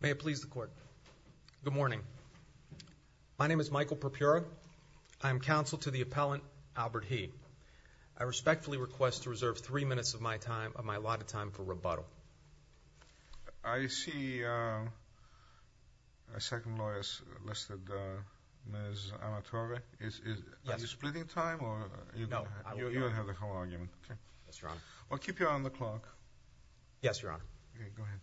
May it please the court. Good morning. My name is Michael Perpura. I am counsel to the appellant Albert Hee. I respectfully request to reserve three minutes of my time, of my allotted time, for rebuttal. I see a second lawyer has enlisted, Ms. Amatore. Yes. Are you splitting time? No. You don't have the whole argument. Yes, Your Honor. Well, keep you on the clock. Yes, Your Honor. Okay, go ahead.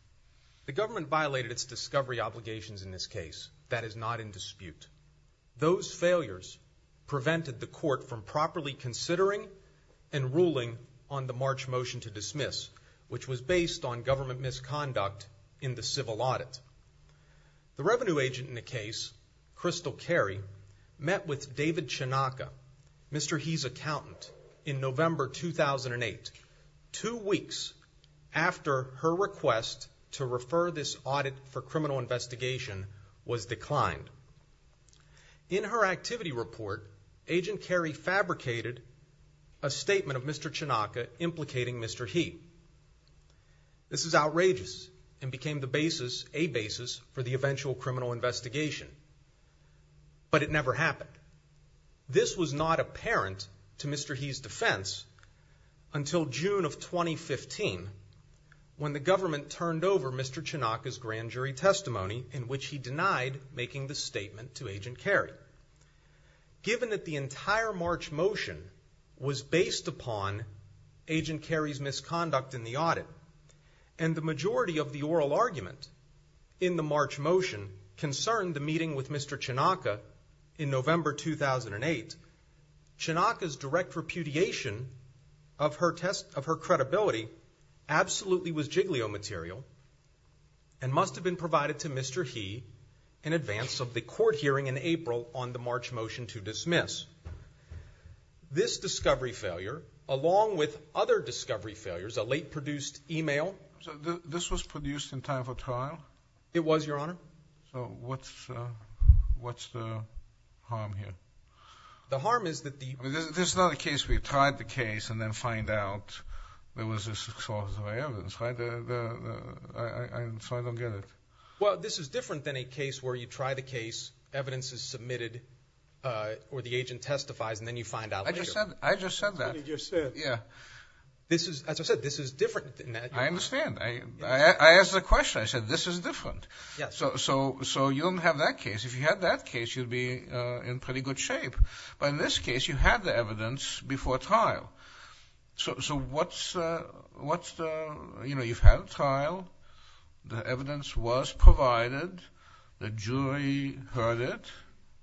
The government violated its discovery obligations in this case. That is not in dispute. Those failures prevented the court from properly considering and ruling on the March motion to dismiss, which was based on government misconduct in the civil audit. The revenue agent in the case, Crystal Carey, met with two weeks after her request to refer this audit for criminal investigation was declined. In her activity report, Agent Carey fabricated a statement of Mr. Chinaka implicating Mr. Hee. This is outrageous and became the basis, a basis, for the eventual criminal investigation. But it never happened. This was not apparent to Mr. Hee's defense until June of 2015, when the government turned over Mr. Chinaka's grand jury testimony, in which he denied making the statement to Agent Carey. Given that the entire March motion was based upon Agent Carey's misconduct in the audit, and the majority of the oral argument in the March motion concerned a meeting with Mr. Chinaka in November 2008, Chinaka's direct repudiation of her credibility absolutely was Jiglio material and must have been provided to Mr. Hee in advance of the court hearing in April on the March motion to dismiss. This discovery failure, along with other discovery failures, a late produced email. So this was produced in time for trial? It was, Your Honor. So what's the harm here? The harm is that the... This is not a case where you tried the case and then find out there was a source of evidence, right? So I don't get it. Well, this is different than a case where you try the case, evidence is submitted, or the agent testifies, and then you find out later. I just said that. You just said. Yeah. This is, as I said, this is different. I understand. I asked the question. I said, this is different. Yes. So you don't have that case. If you had that case, you'd be in pretty good shape. But in this case, you had the evidence before trial. So what's the... You've had a trial, the evidence was provided, the jury heard it,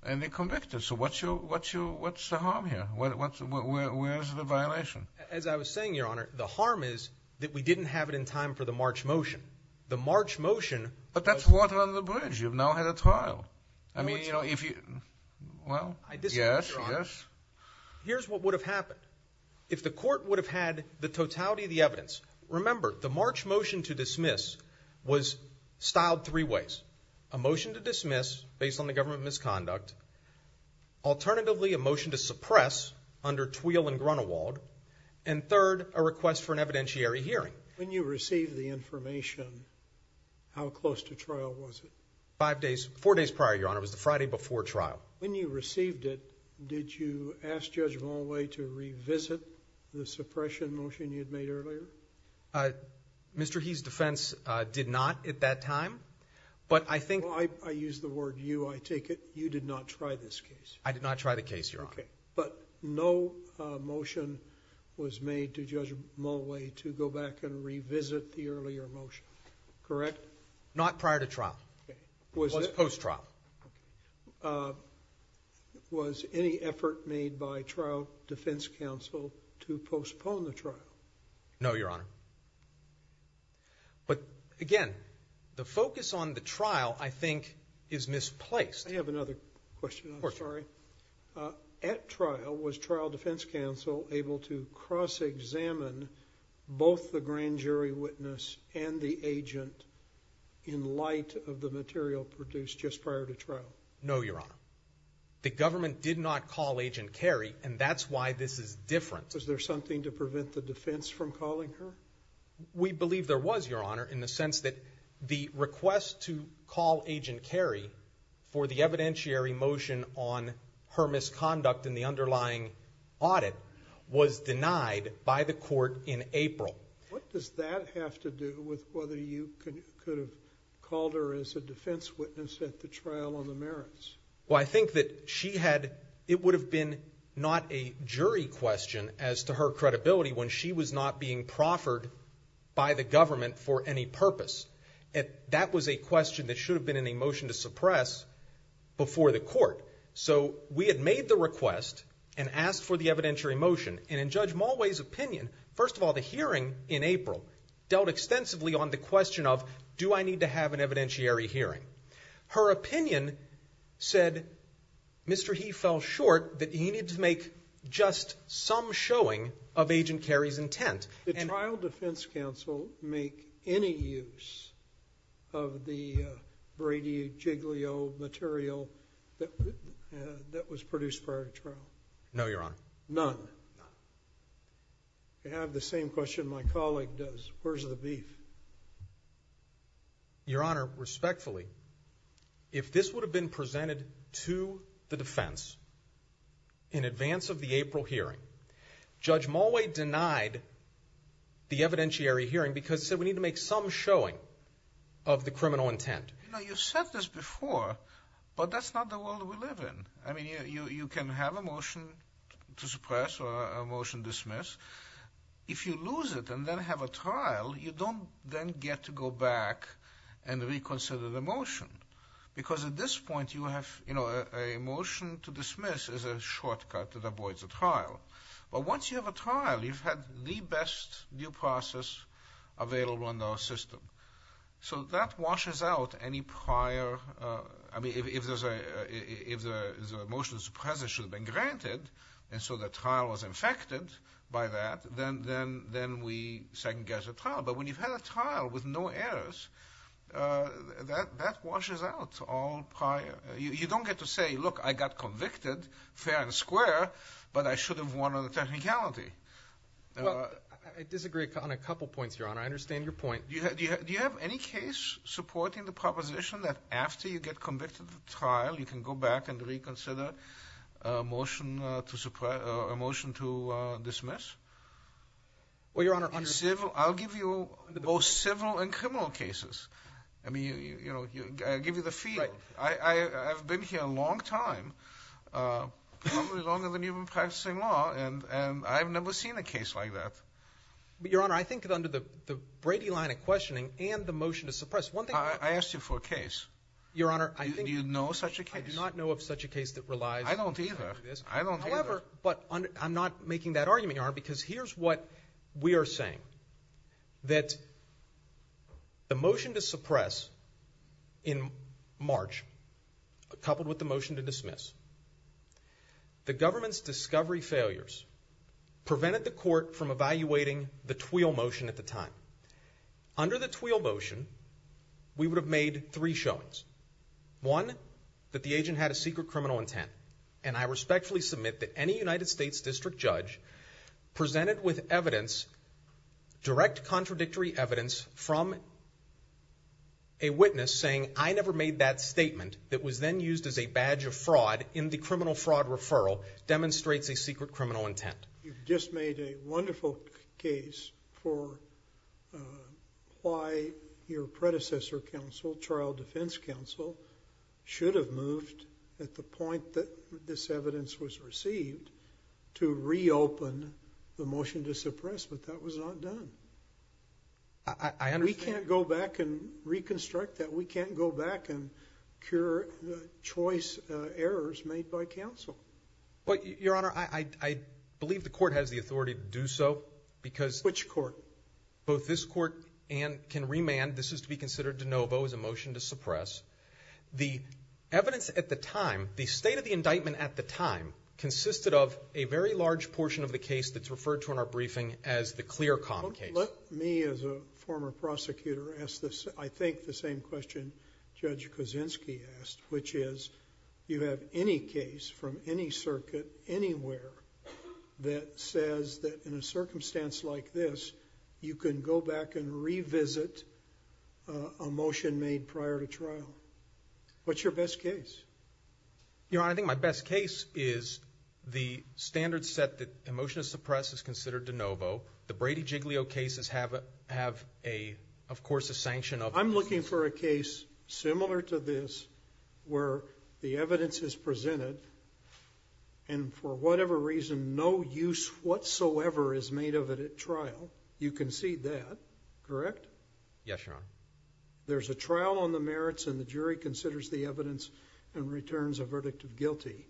and they convicted. So what's the harm here? Where's the violation? As I was saying, the harm is that we didn't have it in time for the March motion. The March motion... But that's water under the bridge. You've now had a trial. I mean, you know, if you... Well, yes, yes. Here's what would have happened. If the court would have had the totality of the evidence. Remember, the March motion to dismiss was styled three ways. A motion to dismiss based on the government misconduct. Alternatively, a motion to suppress under Tweal and Grunewald. And third, a request for an evidentiary hearing. When you received the information, how close to trial was it? Five days, four days prior, Your Honor. It was the Friday before trial. When you received it, did you ask Judge Volway to revisit the suppression motion you'd made earlier? Mr. He's defense did not at that time, but I think... I use the word you. I take it you did not try this case. I did not try the case, Your Honor. But no motion was made to Judge Volway to go back and revisit the earlier motion, correct? Not prior to trial. It was post-trial. Was any effort made by trial defense counsel to postpone the trial? No, Your Honor. But again, the focus on the trial, I think, is misplaced. I have another question. At trial, was trial defense counsel able to cross-examine both the grand jury witness and the agent in light of the material produced just prior to trial? No, Your Honor. The government did not call Agent Carey, and that's why this is different. Was there something to prevent the defense from calling her? We believe there was, Your Honor, in the sense that the request to call Agent Carey for the evidentiary motion on her misconduct in the underlying audit was denied by the court in April. What does that have to do with whether you could have called her as a defense witness at the trial on the merits? Well, I think that she had, it would have been not a jury question as to her credibility when she was not being proffered by the government for any purpose. That was a question that should have been in a motion to suppress before the court. So we had made the request and asked for the evidentiary motion. And in Judge Volway's opinion, first of all, the hearing in April dealt extensively on the question of, do I need to have an evidentiary hearing? Her opinion said, Mr. He fell short that he needed to make just some showing of Agent Carey's intent. Did trial defense counsel make any use of the Brady Jiglio material that was produced prior to trial? No, Your Honor. None? I have the same question my colleague does. Where's the beef? Your Honor, respectfully, if this would have been presented to the defense in advance of the April hearing, Judge Mulway denied the evidentiary hearing because he said we need to You know, you've said this before, but that's not the world we live in. I mean, you can have a motion to suppress or a motion dismiss. If you lose it and then have a trial, you don't then get to go back and reconsider the motion. Because at this point, you have, you know, a motion to dismiss is a shortcut that avoids a trial. But once you have a trial, you've had the best due process available under our system. So that washes out any prior, I mean, if there's a motion to suppress that should have been granted, and so the trial was infected by that, then we second-guess the trial. But when you've had a trial with no errors, that washes out all prior. You don't get to say, look, I got convicted, fair and square, but I should have won on the technicality. Well, I disagree on a couple points, Your Honor. I understand your point. Do you have any case supporting the proposition that after you get convicted of the trial, you can go back and reconsider a motion to suppress or a motion to dismiss? Well, Your Honor, I'll give you both civil and criminal cases. I mean, you know, I'll give you the feel. I've been here a long time, probably longer than you've been practicing law, and I've never seen a case like that. But, Your Honor, I think that under the Brady line of questioning and the motion to suppress, one thing... I asked you for a case. Do you know such a case? I do not know of such a case that relies... I don't either. However, I'm not making that argument, Your Honor, because here's what we are saying, that the motion to suppress in March, coupled with the motion to dismiss, the government's discovery failures prevented the court from evaluating the Twheel motion at the time. Under the Twheel motion, we would have made three showings. One, that the agent had a secret criminal intent, and I respectfully submit that any United States district judge presented with evidence, direct contradictory evidence, from a witness saying, I never made that statement, that was then used as a badge of fraud in the criminal fraud referral, demonstrates a secret criminal intent. You've just made a wonderful case for why your predecessor counsel, trial defense counsel, should have moved, at the point that this evidence was received, to reopen the motion to suppress. But that was not done. I understand. We can't go back and reconstruct that. We can't go back and cure the choice errors made by counsel. But, Your Honor, I believe the court has the authority to do so, because... Which court? Both this court and can remand. This is to be considered de novo as a motion to suppress. The evidence at the time, the state of the indictment at the time, consisted of a very large portion of the case that's referred to in our briefing as the ClearCom case. Let me, as a former prosecutor, ask, I think, the same question Judge Kuczynski asked, which is, you have any case from any circuit, anywhere, that says that in a circumstance like this, you can go back and revisit a motion made prior to trial. What's your best case? Your Honor, I think my best case is the standard set that a motion to suppress is considered de novo. The Brady-Giglio cases have, of course, a sanction of... I'm looking for a case similar to this, where the evidence is presented, and for whatever reason, no use whatsoever is made of it at trial. You concede that, correct? Yes, Your Honor. There's a trial on the merits, and the jury considers the evidence and returns a verdict of guilty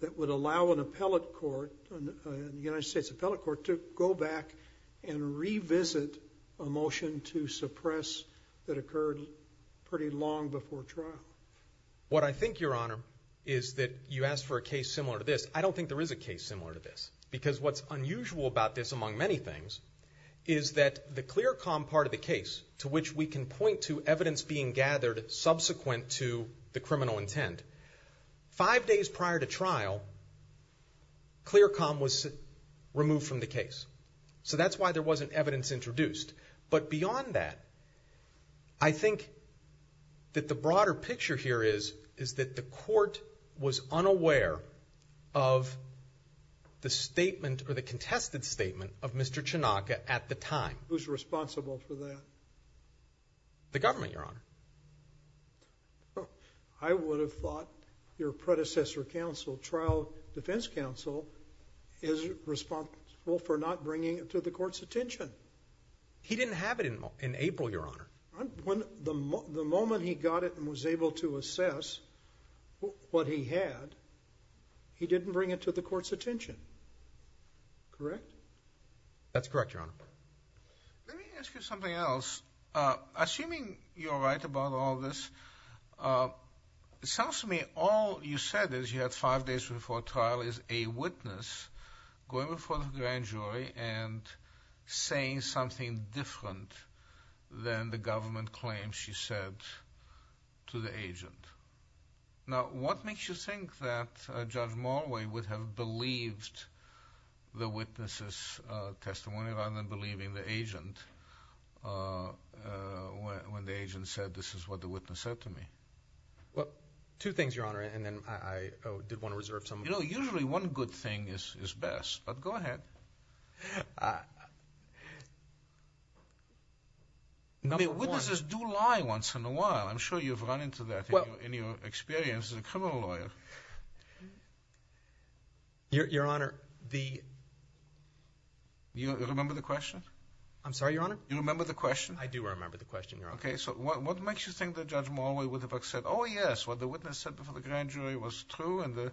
that would allow an appellate court, the United States Appellate Court, to go back and revisit a motion to suppress that occurred pretty long before trial. What I think, Your Honor, is that you asked for a case similar to this. I don't think there is a case similar to this, because what's unusual about this, among many things, is that the ClearCom part of the case, to which we can point to evidence being gathered subsequent to the criminal intent, five days prior to trial, ClearCom was removed from the case. So that's why there wasn't evidence introduced. But beyond that, I think that the broader picture here is that the court was unaware of the statement or the contested statement of Mr. Chinaka at the time. Who's responsible for that? The government, Your Honor. I would have thought your predecessor counsel, trial defense counsel, is responsible for not bringing it to the court's attention. He didn't have it in April, Your Honor. The moment he got it and was able to assess what he had, he didn't bring it to the court's attention. Correct? That's correct, Your Honor. Let me ask you something else. Assuming you're right about all this, it sounds to me all you said is you had five days before trial as a witness going before the grand jury and saying something different than the government claims you said to the agent. Now, what makes you think that Judge Morley would have believed the witness' testimony rather than believing the agent when the agent said, this is what the witness said to me? Well, two things, Your Honor, and then I did want to reserve some. You know, usually one good thing is best, but go ahead. Number one. Witnesses do lie once in a while. I'm sure you've run into that in your experience as a criminal lawyer. Your Honor, the – You remember the question? I'm sorry, Your Honor? You remember the question? I do remember the question, Your Honor. Okay, so what makes you think that Judge Morley would have accepted, oh, yes, what the witness said before the grand jury was true and the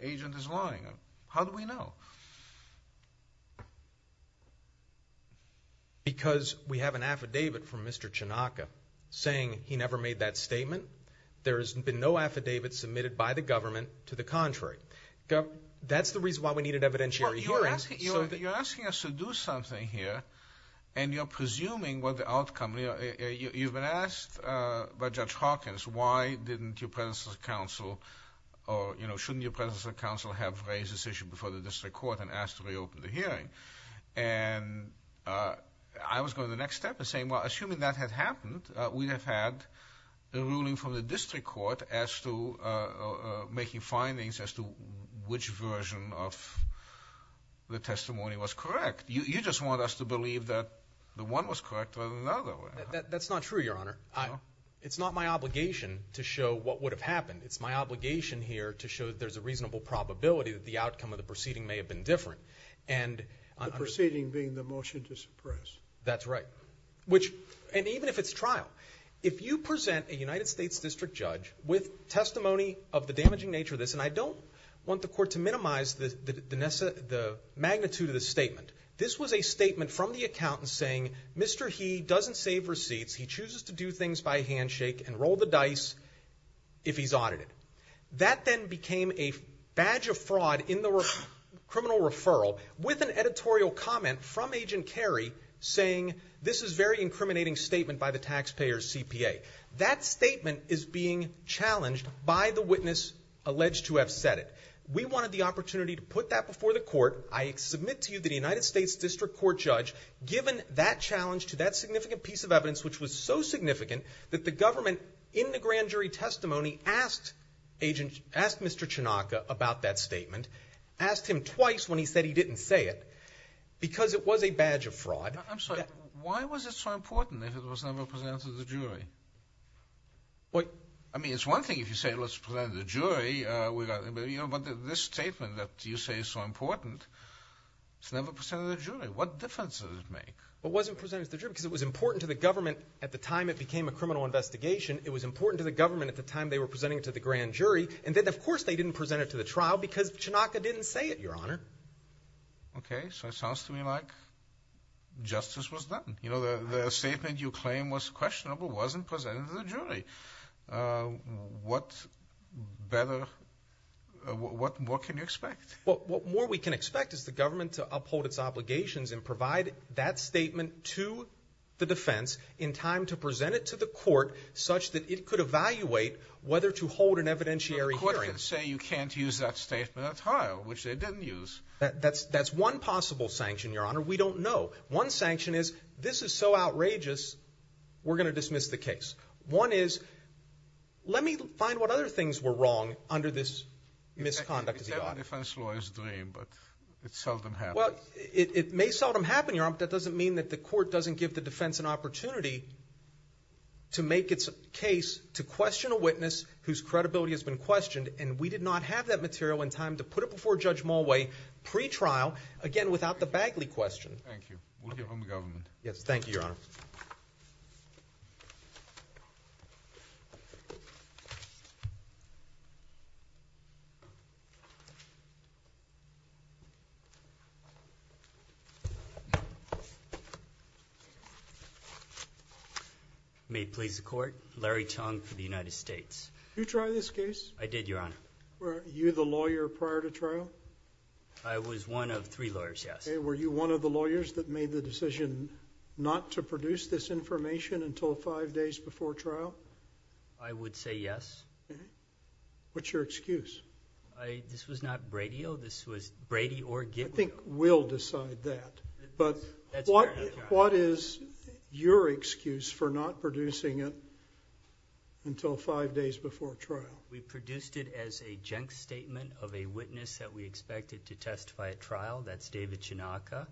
agent is lying? How do we know? Because we have an affidavit from Mr. Chinaka saying he never made that statement. There has been no affidavit submitted by the government to the contrary. That's the reason why we needed evidentiary hearings. You're asking us to do something here, and you're presuming what the outcome – you've been asked by Judge Hawkins why didn't your presence as counsel or, you know, shouldn't your presence as counsel have raised this issue before the district court and asked to reopen the hearing? And I was going to the next step and saying, well, assuming that had happened, we would have had the ruling from the district court as to making findings as to which version of the testimony was correct. You just want us to believe that the one was correct rather than the other. That's not true, Your Honor. It's not my obligation to show what would have happened. It's my obligation here to show that there's a reasonable probability that the outcome of the proceeding may have been different. The proceeding being the motion to suppress. That's right. And even if it's trial, if you present a United States district judge with testimony of the damaging nature of this, and I don't want the court to minimize the magnitude of the statement. This was a statement from the accountant saying, Mr. He doesn't save receipts. He chooses to do things by handshake and roll the dice if he's audited. That then became a badge of fraud in the criminal referral with an editorial comment from Agent Kerry saying, this is a very incriminating statement by the taxpayer's CPA. That statement is being challenged by the witness alleged to have said it. We wanted the opportunity to put that before the court. I submit to you that a United States district court judge, given that challenge to that significant piece of evidence, which was so significant that the government in the grand jury testimony asked Mr. Chinaka about that statement, asked him twice when he said he didn't say it because it was a badge of fraud. I'm sorry. Why was it so important if it was never presented to the jury? I mean, it's one thing if you say let's present it to the jury, but this statement that you say is so important, it's never presented to the jury. What difference does it make? It wasn't presented to the jury because it was important to the government at the time it became a criminal investigation. It was important to the government at the time they were presenting it to the grand jury, and then of course they didn't present it to the trial because Chinaka didn't say it, Your Honor. Okay. So it sounds to me like justice was done. The statement you claim was questionable wasn't presented to the jury. What more can you expect? What more we can expect is the government to uphold its obligations and provide that statement to the defense in time to present it to the court such that it could evaluate whether to hold an evidentiary hearing. The court can say you can't use that statement at all, which they didn't use. That's one possible sanction, Your Honor. We don't know. One sanction is this is so outrageous we're going to dismiss the case. One is let me find what other things were wrong under this misconduct of the audit. That's a defense lawyer's dream, but it seldom happens. Well, it may seldom happen, Your Honor, but that doesn't mean that the court doesn't give the defense an opportunity to make its case to question a witness whose credibility has been questioned, and we did not have that material in time to put it before Judge Mulway pre-trial, again, without the Bagley question. Thank you. We'll hear from the government. Yes, thank you, Your Honor. May it please the court, Larry Tong for the United States. Did you try this case? I did, Your Honor. Were you the lawyer prior to trial? I was one of three lawyers, yes. Okay, were you one of the lawyers that made the decision not to produce this information until five days before trial? I would say yes. What's your excuse? This was not Brady-o. This was Brady or Git-o. I think we'll decide that, but what is your excuse for not producing it until five days before trial? We produced it as a junk statement of a witness that we expected to testify at trial. That's David Chinaka.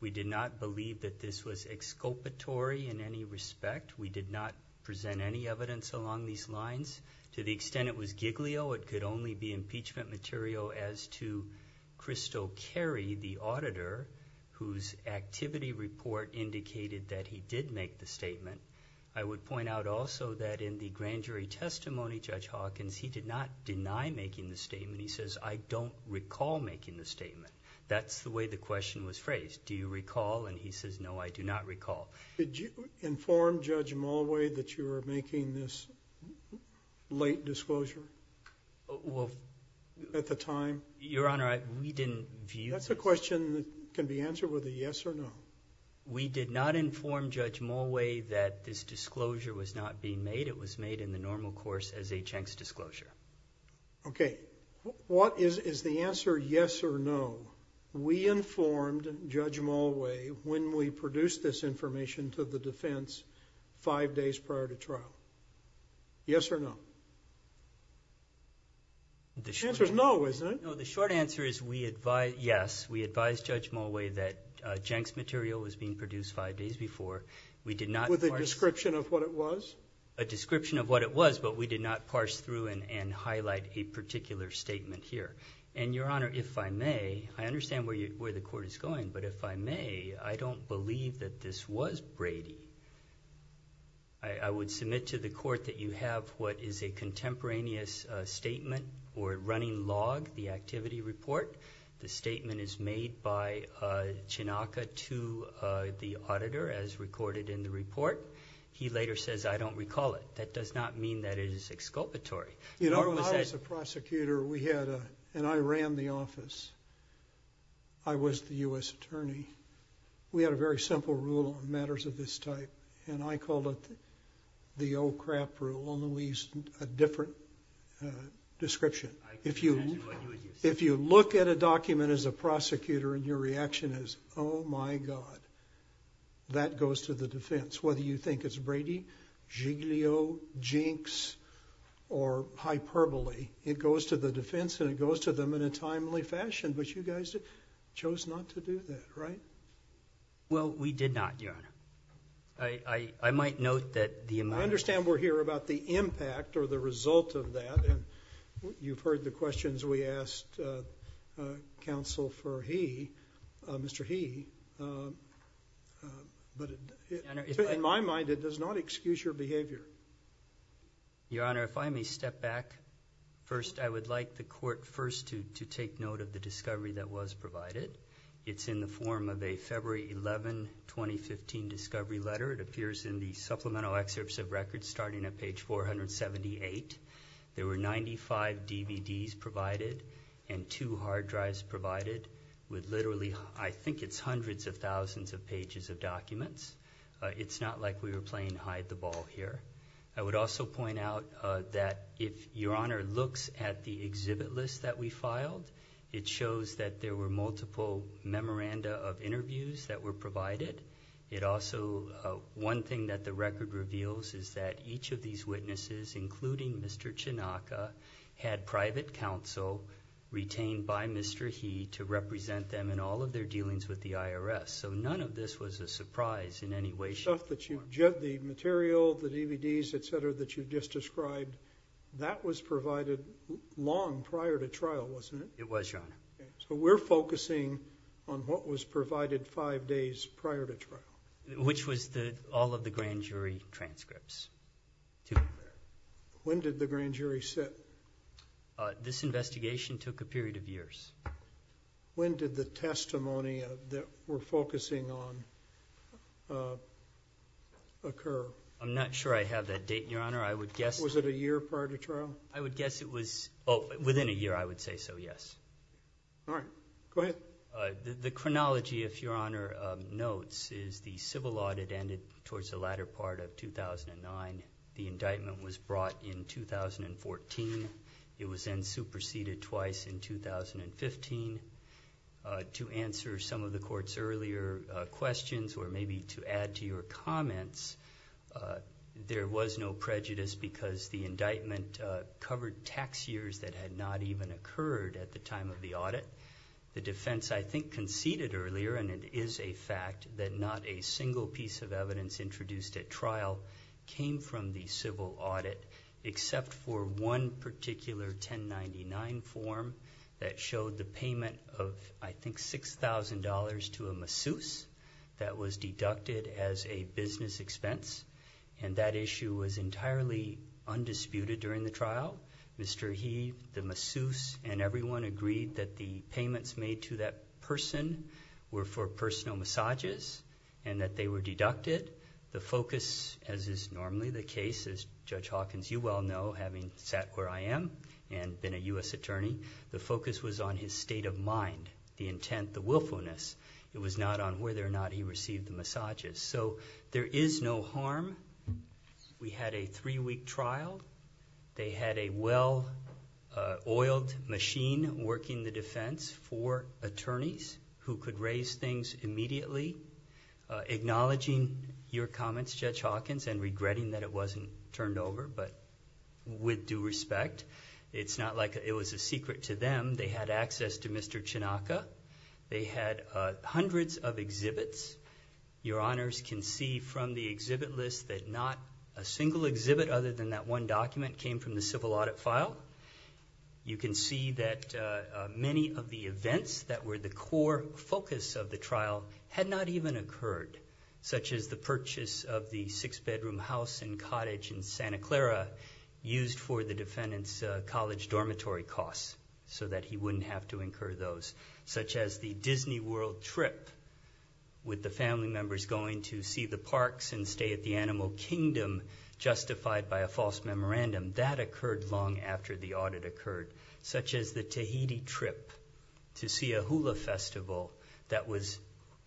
We did not believe that this was exculpatory in any respect. We did not present any evidence along these lines. To the extent it was Giglio, it could only be impeachment material as to Crystal Carey, the auditor, whose activity report indicated that he did make the statement. I would point out also that in the grand jury testimony, Judge Hawkins, he did not deny making the statement. He says, I don't recall making the statement. That's the way the question was phrased. Do you recall? And he says, no, I do not recall. Did you inform Judge Mulway that you were making this late disclosure at the time? Your Honor, we didn't view this. That's a question that can be answered with a yes or no. We did not inform Judge Mulway that this disclosure was not being made. It was made in the normal course as a junk disclosure. Okay. What is the answer yes or no? We informed Judge Mulway when we produced this information to the defense five days prior to trial. Yes or no? The short answer is no, isn't it? No, the short answer is yes. We advised Judge Mulway that Jenks material was being produced five days before. We did not parse. With a description of what it was? A description of what it was, but we did not parse through and highlight a particular statement here. And, Your Honor, if I may, I understand where the court is going, but if I may, I don't believe that this was Brady. I would submit to the court that you have what is a contemporaneous statement or running log, the activity report. The statement is made by Chinaka to the auditor as recorded in the report. He later says, I don't recall it. That does not mean that it is exculpatory. You know, when I was a prosecutor and I ran the office, I was the U.S. attorney, we had a very simple rule on matters of this type, and I called it the old crap rule and we used a different description. If you look at a document as a prosecutor and your reaction is, oh, my God, that goes to the defense. Whether you think it's Brady, Giglio, Jinx, or hyperbole, it goes to the defense and it goes to them in a timely fashion, but you guys chose not to do that, right? Well, we did not, Your Honor. I might note that the amount of... I understand we're here about the impact or the result of that, and you've heard the questions we asked counsel for he, Mr. He. But in my mind, it does not excuse your behavior. Your Honor, if I may step back. First, I would like the court first to take note of the discovery that was provided. It's in the form of a February 11, 2015 discovery letter. It appears in the supplemental excerpts of records starting at page 478. There were 95 DVDs provided and two hard drives provided with literally, I think it's hundreds of thousands of pages of documents. It's not like we were playing hide the ball here. I would also point out that if Your Honor looks at the exhibit list that we filed, it shows that there were multiple memoranda of interviews that were provided. It also... One thing that the record reveals is that each of these witnesses, including Mr. Chinaka, had private counsel retained by Mr. He to represent them in all of their dealings with the IRS. So none of this was a surprise in any way, shape, or form. The material, the DVDs, et cetera, that you just described, that was provided long prior to trial, wasn't it? It was, Your Honor. So we're focusing on what was provided five days prior to trial. Which was all of the grand jury transcripts. When did the grand jury sit? This investigation took a period of years. When did the testimony that we're focusing on occur? I'm not sure I have that date, Your Honor. I would guess... Was it a year prior to trial? I would guess it was within a year, I would say so, yes. All right. Go ahead. The chronology, if Your Honor notes, is the civil audit ended towards the latter part of 2009. The indictment was brought in 2014. It was then superseded twice in 2015. To answer some of the court's earlier questions, or maybe to add to your comments, there was no prejudice because the indictment covered tax years that had not even occurred at the time of the audit. The defense, I think, conceded earlier, and it is a fact that not a single piece of evidence introduced at trial came from the civil audit except for one particular 1099 form that showed the payment of, I think, $6,000 to a masseuse that was deducted as a business expense, and that issue was entirely undisputed during the trial. Mr. He, the masseuse, and everyone agreed that the payments made to that person were for personal massages and that they were deducted. The focus, as is normally the case, as Judge Hawkins, you well know, having sat where I am and been a U.S. attorney, the focus was on his state of mind, the intent, the willfulness. It was not on whether or not he received the massages. So there is no harm. We had a three-week trial. They had a well-oiled machine working the defense for attorneys who could raise things immediately. Acknowledging your comments, Judge Hawkins, and regretting that it wasn't turned over, but with due respect, it's not like it was a secret to them. They had access to Mr. Chinaka. They had hundreds of exhibits. Your honors can see from the exhibit list that not a single exhibit other than that one document came from the civil audit file. You can see that many of the events that were the core focus of the trial had not even occurred, such as the purchase of the six-bedroom house and cottage in Santa Clara used for the defendant's college dormitory costs so that he wouldn't have to incur those, such as the Disney World trip with the family members going to see the parks and stay at the Animal Kingdom justified by a false memorandum. That occurred long after the audit occurred, such as the Tahiti trip to see a hula festival that was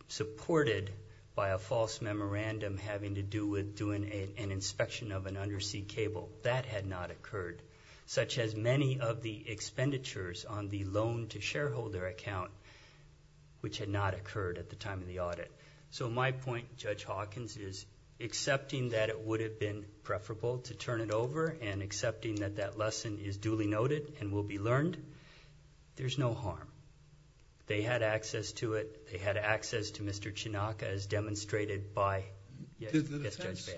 supported by a false memorandum having to do with doing an inspection of an undersea cable. That had not occurred, such as many of the expenditures on the loan-to-shareholder account, which had not occurred at the time of the audit. My point, Judge Hawkins, is accepting that it would have been preferable to turn it over and accepting that that lesson is duly noted and will be learned, there's no harm. They had access to it. They had access to Mr. Chinaka, as demonstrated by Mr. Esbail. Did the defense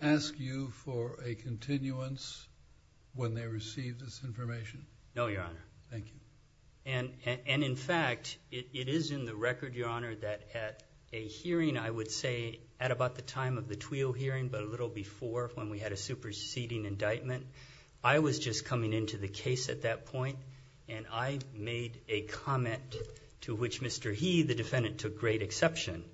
ask you for a continuance when they received this information? No, Your Honor. Thank you. And, in fact, it is in the record, Your Honor, that at a hearing, I would say, at about the time of the Twill hearing, but a little before, when we had a superseding indictment, I was just coming into the case at that point, and I made a comment to which Mr. He, the defendant, took great exception.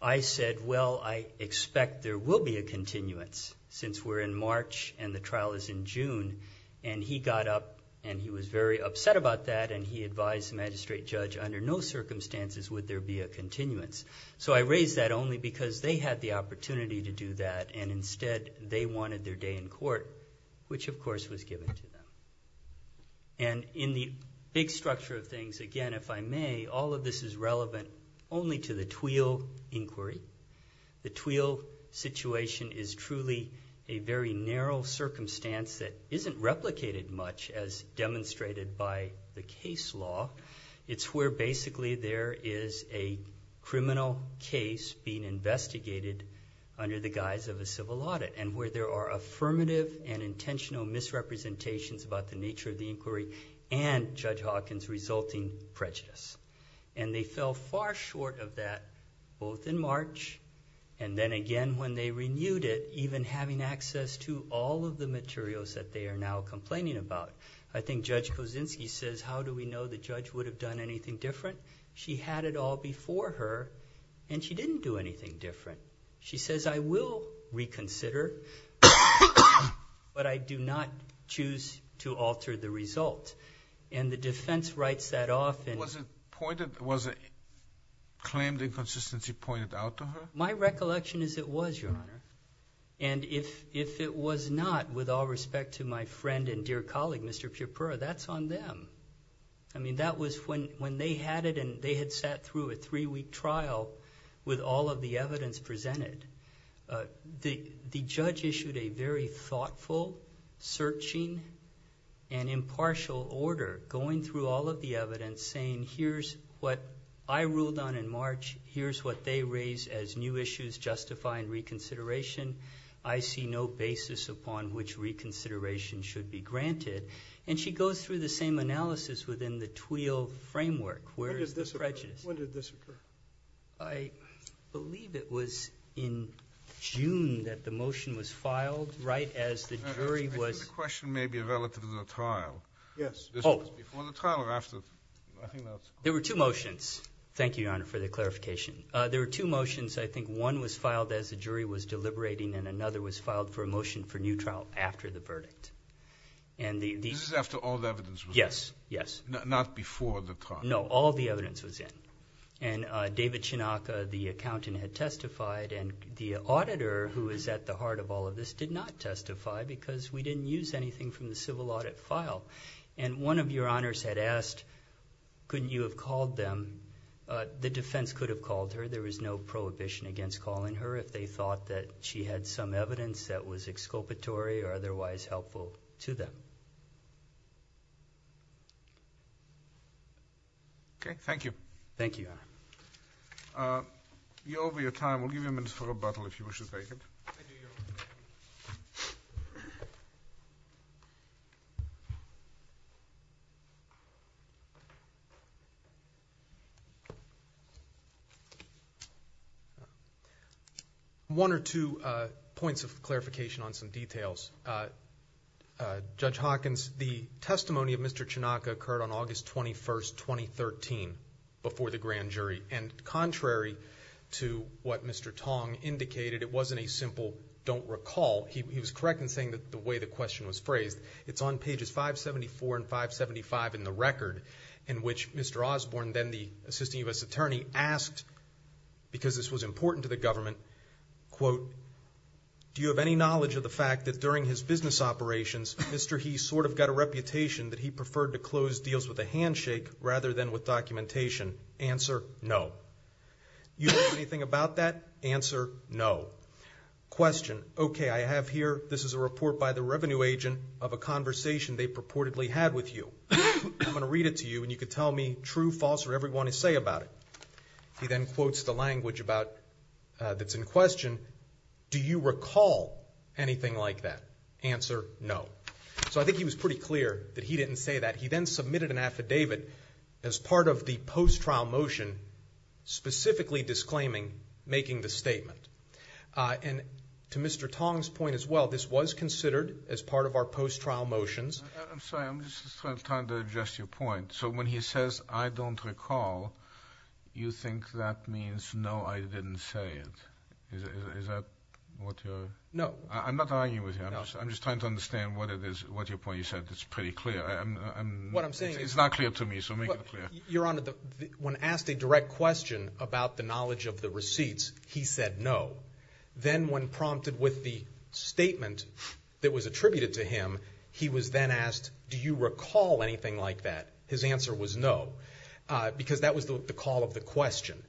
I said, well, I expect there will be a continuance, since we're in March and the trial is in June. And he got up, and he was very upset about that, and he advised the magistrate judge, under no circumstances would there be a continuance. So I raised that only because they had the opportunity to do that, and instead they wanted their day in court, which, of course, was given to them. And in the big structure of things, again, if I may, all of this is relevant only to the Twill inquiry. The Twill situation is truly a very narrow circumstance that isn't replicated much, as demonstrated by the case law. It's where, basically, there is a criminal case being investigated under the guise of a civil audit, and where there are affirmative and intentional misrepresentations about the nature of the inquiry and Judge Hawkins' resulting prejudice. And they fell far short of that, both in March, and then again when they renewed it, even having access to all of the materials that they are now complaining about. I think Judge Kosinski says, how do we know the judge would have done anything different? She had it all before her, and she didn't do anything different. She says, I will reconsider, but I do not choose to alter the result. And the defense writes that off. Was a claimed inconsistency pointed out to her? My recollection is it was, Your Honor. And if it was not, with all respect to my friend and dear colleague, Mr. Pieper, that's on them. I mean, that was when they had it, and they had sat through a three-week trial with all of the evidence presented. The judge issued a very thoughtful, searching, and impartial order, going through all of the evidence, saying, here's what I ruled on in March, here's what they raised as new issues justifying reconsideration. I see no basis upon which reconsideration should be granted. And she goes through the same analysis within the Twill framework, where is the prejudice? When did this occur? I believe it was in June that the motion was filed, right, as the jury was. I think the question may be relative to the trial. Yes. This was before the trial or after? There were two motions. Thank you, Your Honor, for the clarification. There were two motions. I think one was filed as the jury was deliberating, and another was filed for a motion for new trial after the verdict. This is after all the evidence was in? Yes, yes. Not before the trial? No, all the evidence was in. And David Chinaka, the accountant, had testified, and the auditor, who is at the heart of all of this, did not testify because we didn't use anything from the civil audit file. And one of your honors had asked, couldn't you have called them? The defense could have called her. There was no prohibition against calling her if they thought that she had some evidence that was exculpatory or otherwise helpful to them. Okay, thank you. Thank you, Your Honor. You're over your time. We'll give you a minute for rebuttal if you wish to take it. One or two points of clarification on some details. Judge Hawkins, the testimony of Mr. Chinaka occurred on August 21, 2013, before the grand jury, and contrary to what Mr. Tong indicated, it wasn't a simple don't recall. He was correct in saying that the way the question was phrased. It's on pages 574 and 575 in the record, in which Mr. Osborne, then the assistant U.S. attorney, asked, because this was important to the government, quote, do you have any knowledge of the fact that during his business operations, Mr. He sort of got a reputation that he preferred to close deals with a handshake rather than with documentation? Answer, no. You don't know anything about that? Answer, no. Question, okay, I have here, this is a report by the revenue agent of a conversation they purportedly had with you. I'm going to read it to you, and you can tell me true, false, or whatever you want to say about it. He then quotes the language that's in question. Do you recall anything like that? Answer, no. So I think he was pretty clear that he didn't say that. He then submitted an affidavit as part of the post-trial motion, specifically disclaiming making the statement. And to Mr. Tong's point as well, this was considered as part of our post-trial motions. I'm sorry, I'm just trying to adjust your point. So when he says, I don't recall, you think that means, no, I didn't say it. Is that what you're? No. I'm not arguing with you. I'm just trying to understand what it is, what your point is. As I said, it's pretty clear. What I'm saying is. It's not clear to me, so make it clear. Your Honor, when asked a direct question about the knowledge of the receipts, he said no. Then when prompted with the statement that was attributed to him, he was then asked, do you recall anything like that? His answer was no, because that was the call of the question.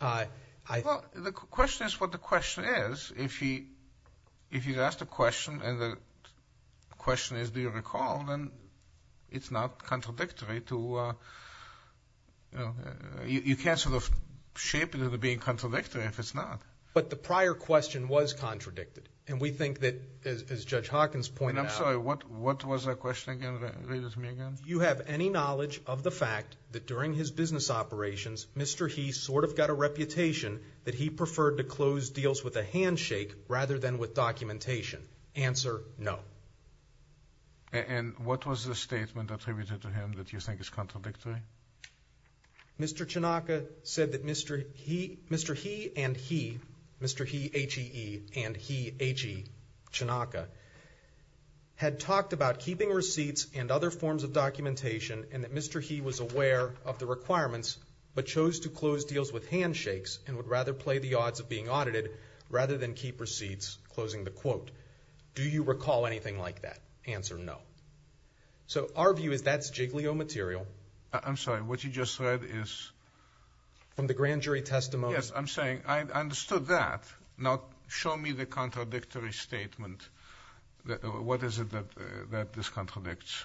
Well, the question is what the question is. If he's asked a question and the question is do you recall, then it's not contradictory to. You can't sort of shape it into being contradictory if it's not. But the prior question was contradicted. And we think that, as Judge Hawkins pointed out. I'm sorry, what was the question again? Read it to me again. Do you have any knowledge of the fact that during his business operations, Mr. He sort of got a reputation that he preferred to close deals with a handshake rather than with documentation? Answer, no. And what was the statement attributed to him that you think is contradictory? Mr. Chinaka said that Mr. He and he, Mr. He, H-E-E, and he, H-E, Chinaka, had talked about keeping receipts and other forms of documentation and that Mr. He was aware of the requirements but chose to close deals with handshakes and would rather play the odds of being audited rather than keep receipts, closing the quote. Do you recall anything like that? Answer, no. So our view is that's jiggly old material. I'm sorry, what you just said is? From the grand jury testimony. Yes, I'm saying I understood that. Now show me the contradictory statement. What is it that this contradicts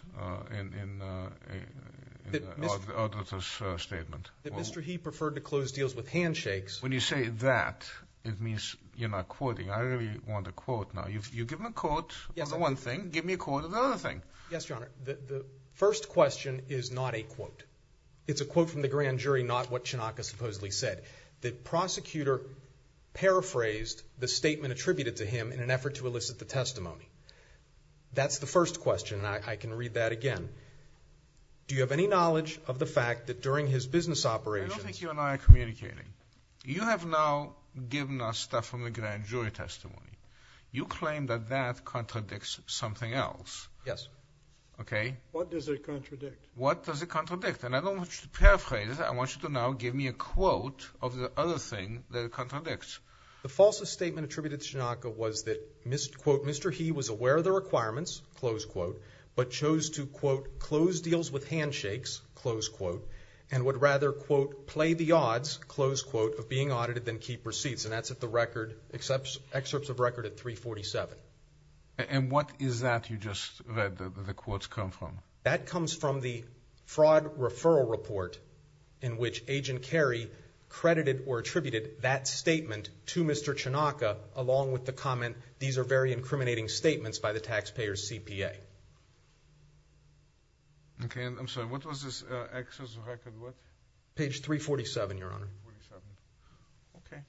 in the auditor's statement? That Mr. He preferred to close deals with handshakes. When you say that, it means you're not quoting. I really want a quote now. You give me a quote on one thing, give me a quote on another thing. Yes, Your Honor. The first question is not a quote. It's a quote from the grand jury, not what Chinaka supposedly said. The prosecutor paraphrased the statement attributed to him in an effort to elicit the testimony. That's the first question, and I can read that again. Do you have any knowledge of the fact that during his business operations? I don't think you and I are communicating. You have now given us stuff from the grand jury testimony. You claim that that contradicts something else. Okay. What does it contradict? What does it contradict? And I don't want you to paraphrase. I want you to now give me a quote of the other thing that contradicts. The false statement attributed to Chinaka was that Mr. He was aware of the requirements, but chose to, quote, close deals with handshakes, close quote, and would rather, quote, play the odds, close quote, of being audited than keep receipts. And that's at the record, excerpts of record at 347. And what is that you just read that the quotes come from? That comes from the fraud referral report in which Agent Carey credited or attributed that statement to Mr. Chinaka along with the comment, these are very incriminating statements by the taxpayer's CPA. Okay. I'm sorry. What was this excerpt of record? What? Page 347, Your Honor. 347. Okay.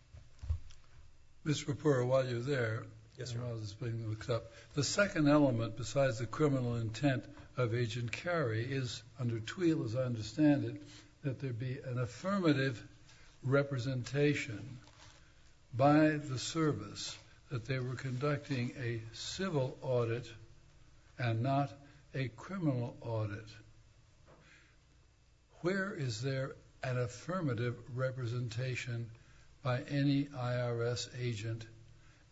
Mr. Rapport, while you're there, the second element besides the criminal intent of Agent Carey is, under Twheel, as I understand it, that there be an affirmative representation by the service that they were conducting a civil audit and not a criminal audit. Where is there an affirmative representation by any IRS agent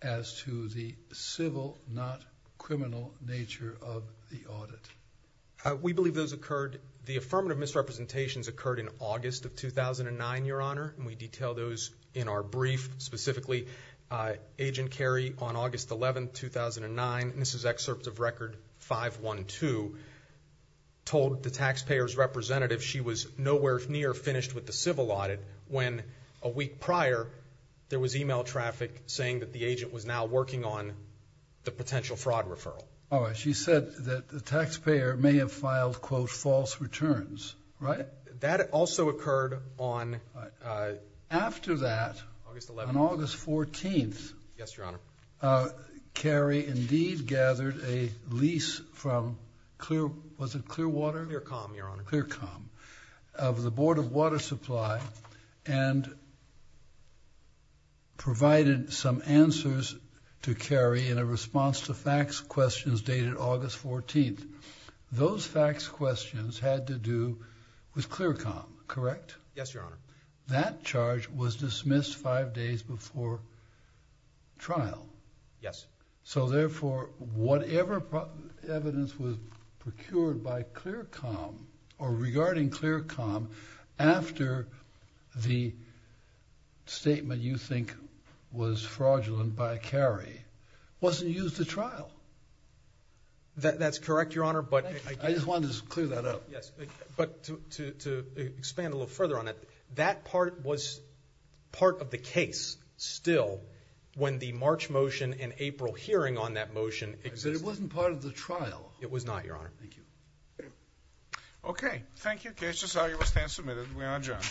as to the civil, not criminal, nature of the audit? We believe those occurred. The affirmative misrepresentations occurred in August of 2009, Your Honor, and we detail those in our brief. Specifically, Agent Carey on August 11, 2009, and this is excerpts of record 512, told the taxpayer's representative she was nowhere near finished with the civil audit when a week prior there was e-mail traffic saying that the agent was now working on the potential fraud referral. All right. She said that the taxpayer may have filed, quote, false returns, right? That also occurred on August 11. After that, on August 14th, Yes, Your Honor. Carey indeed gathered a lease from Clear, was it Clearwater? Clearcom, Your Honor. Clearcom. Of the Board of Water Supply and provided some answers to Carey in a response to fax questions dated August 14th. Those fax questions had to do with Clearcom, correct? Yes, Your Honor. That charge was dismissed five days before trial. Yes. So, therefore, whatever evidence was procured by Clearcom or regarding Clearcom after the statement you think was fraudulent by Carey wasn't used at trial. That's correct, Your Honor. I just wanted to clear that up. Yes, but to expand a little further on it, that part was part of the case, still, when the March motion and April hearing on that motion existed. But it wasn't part of the trial. It was not, Your Honor. Thank you. Okay. Thank you. Cases are able to stand submitted. We are adjourned.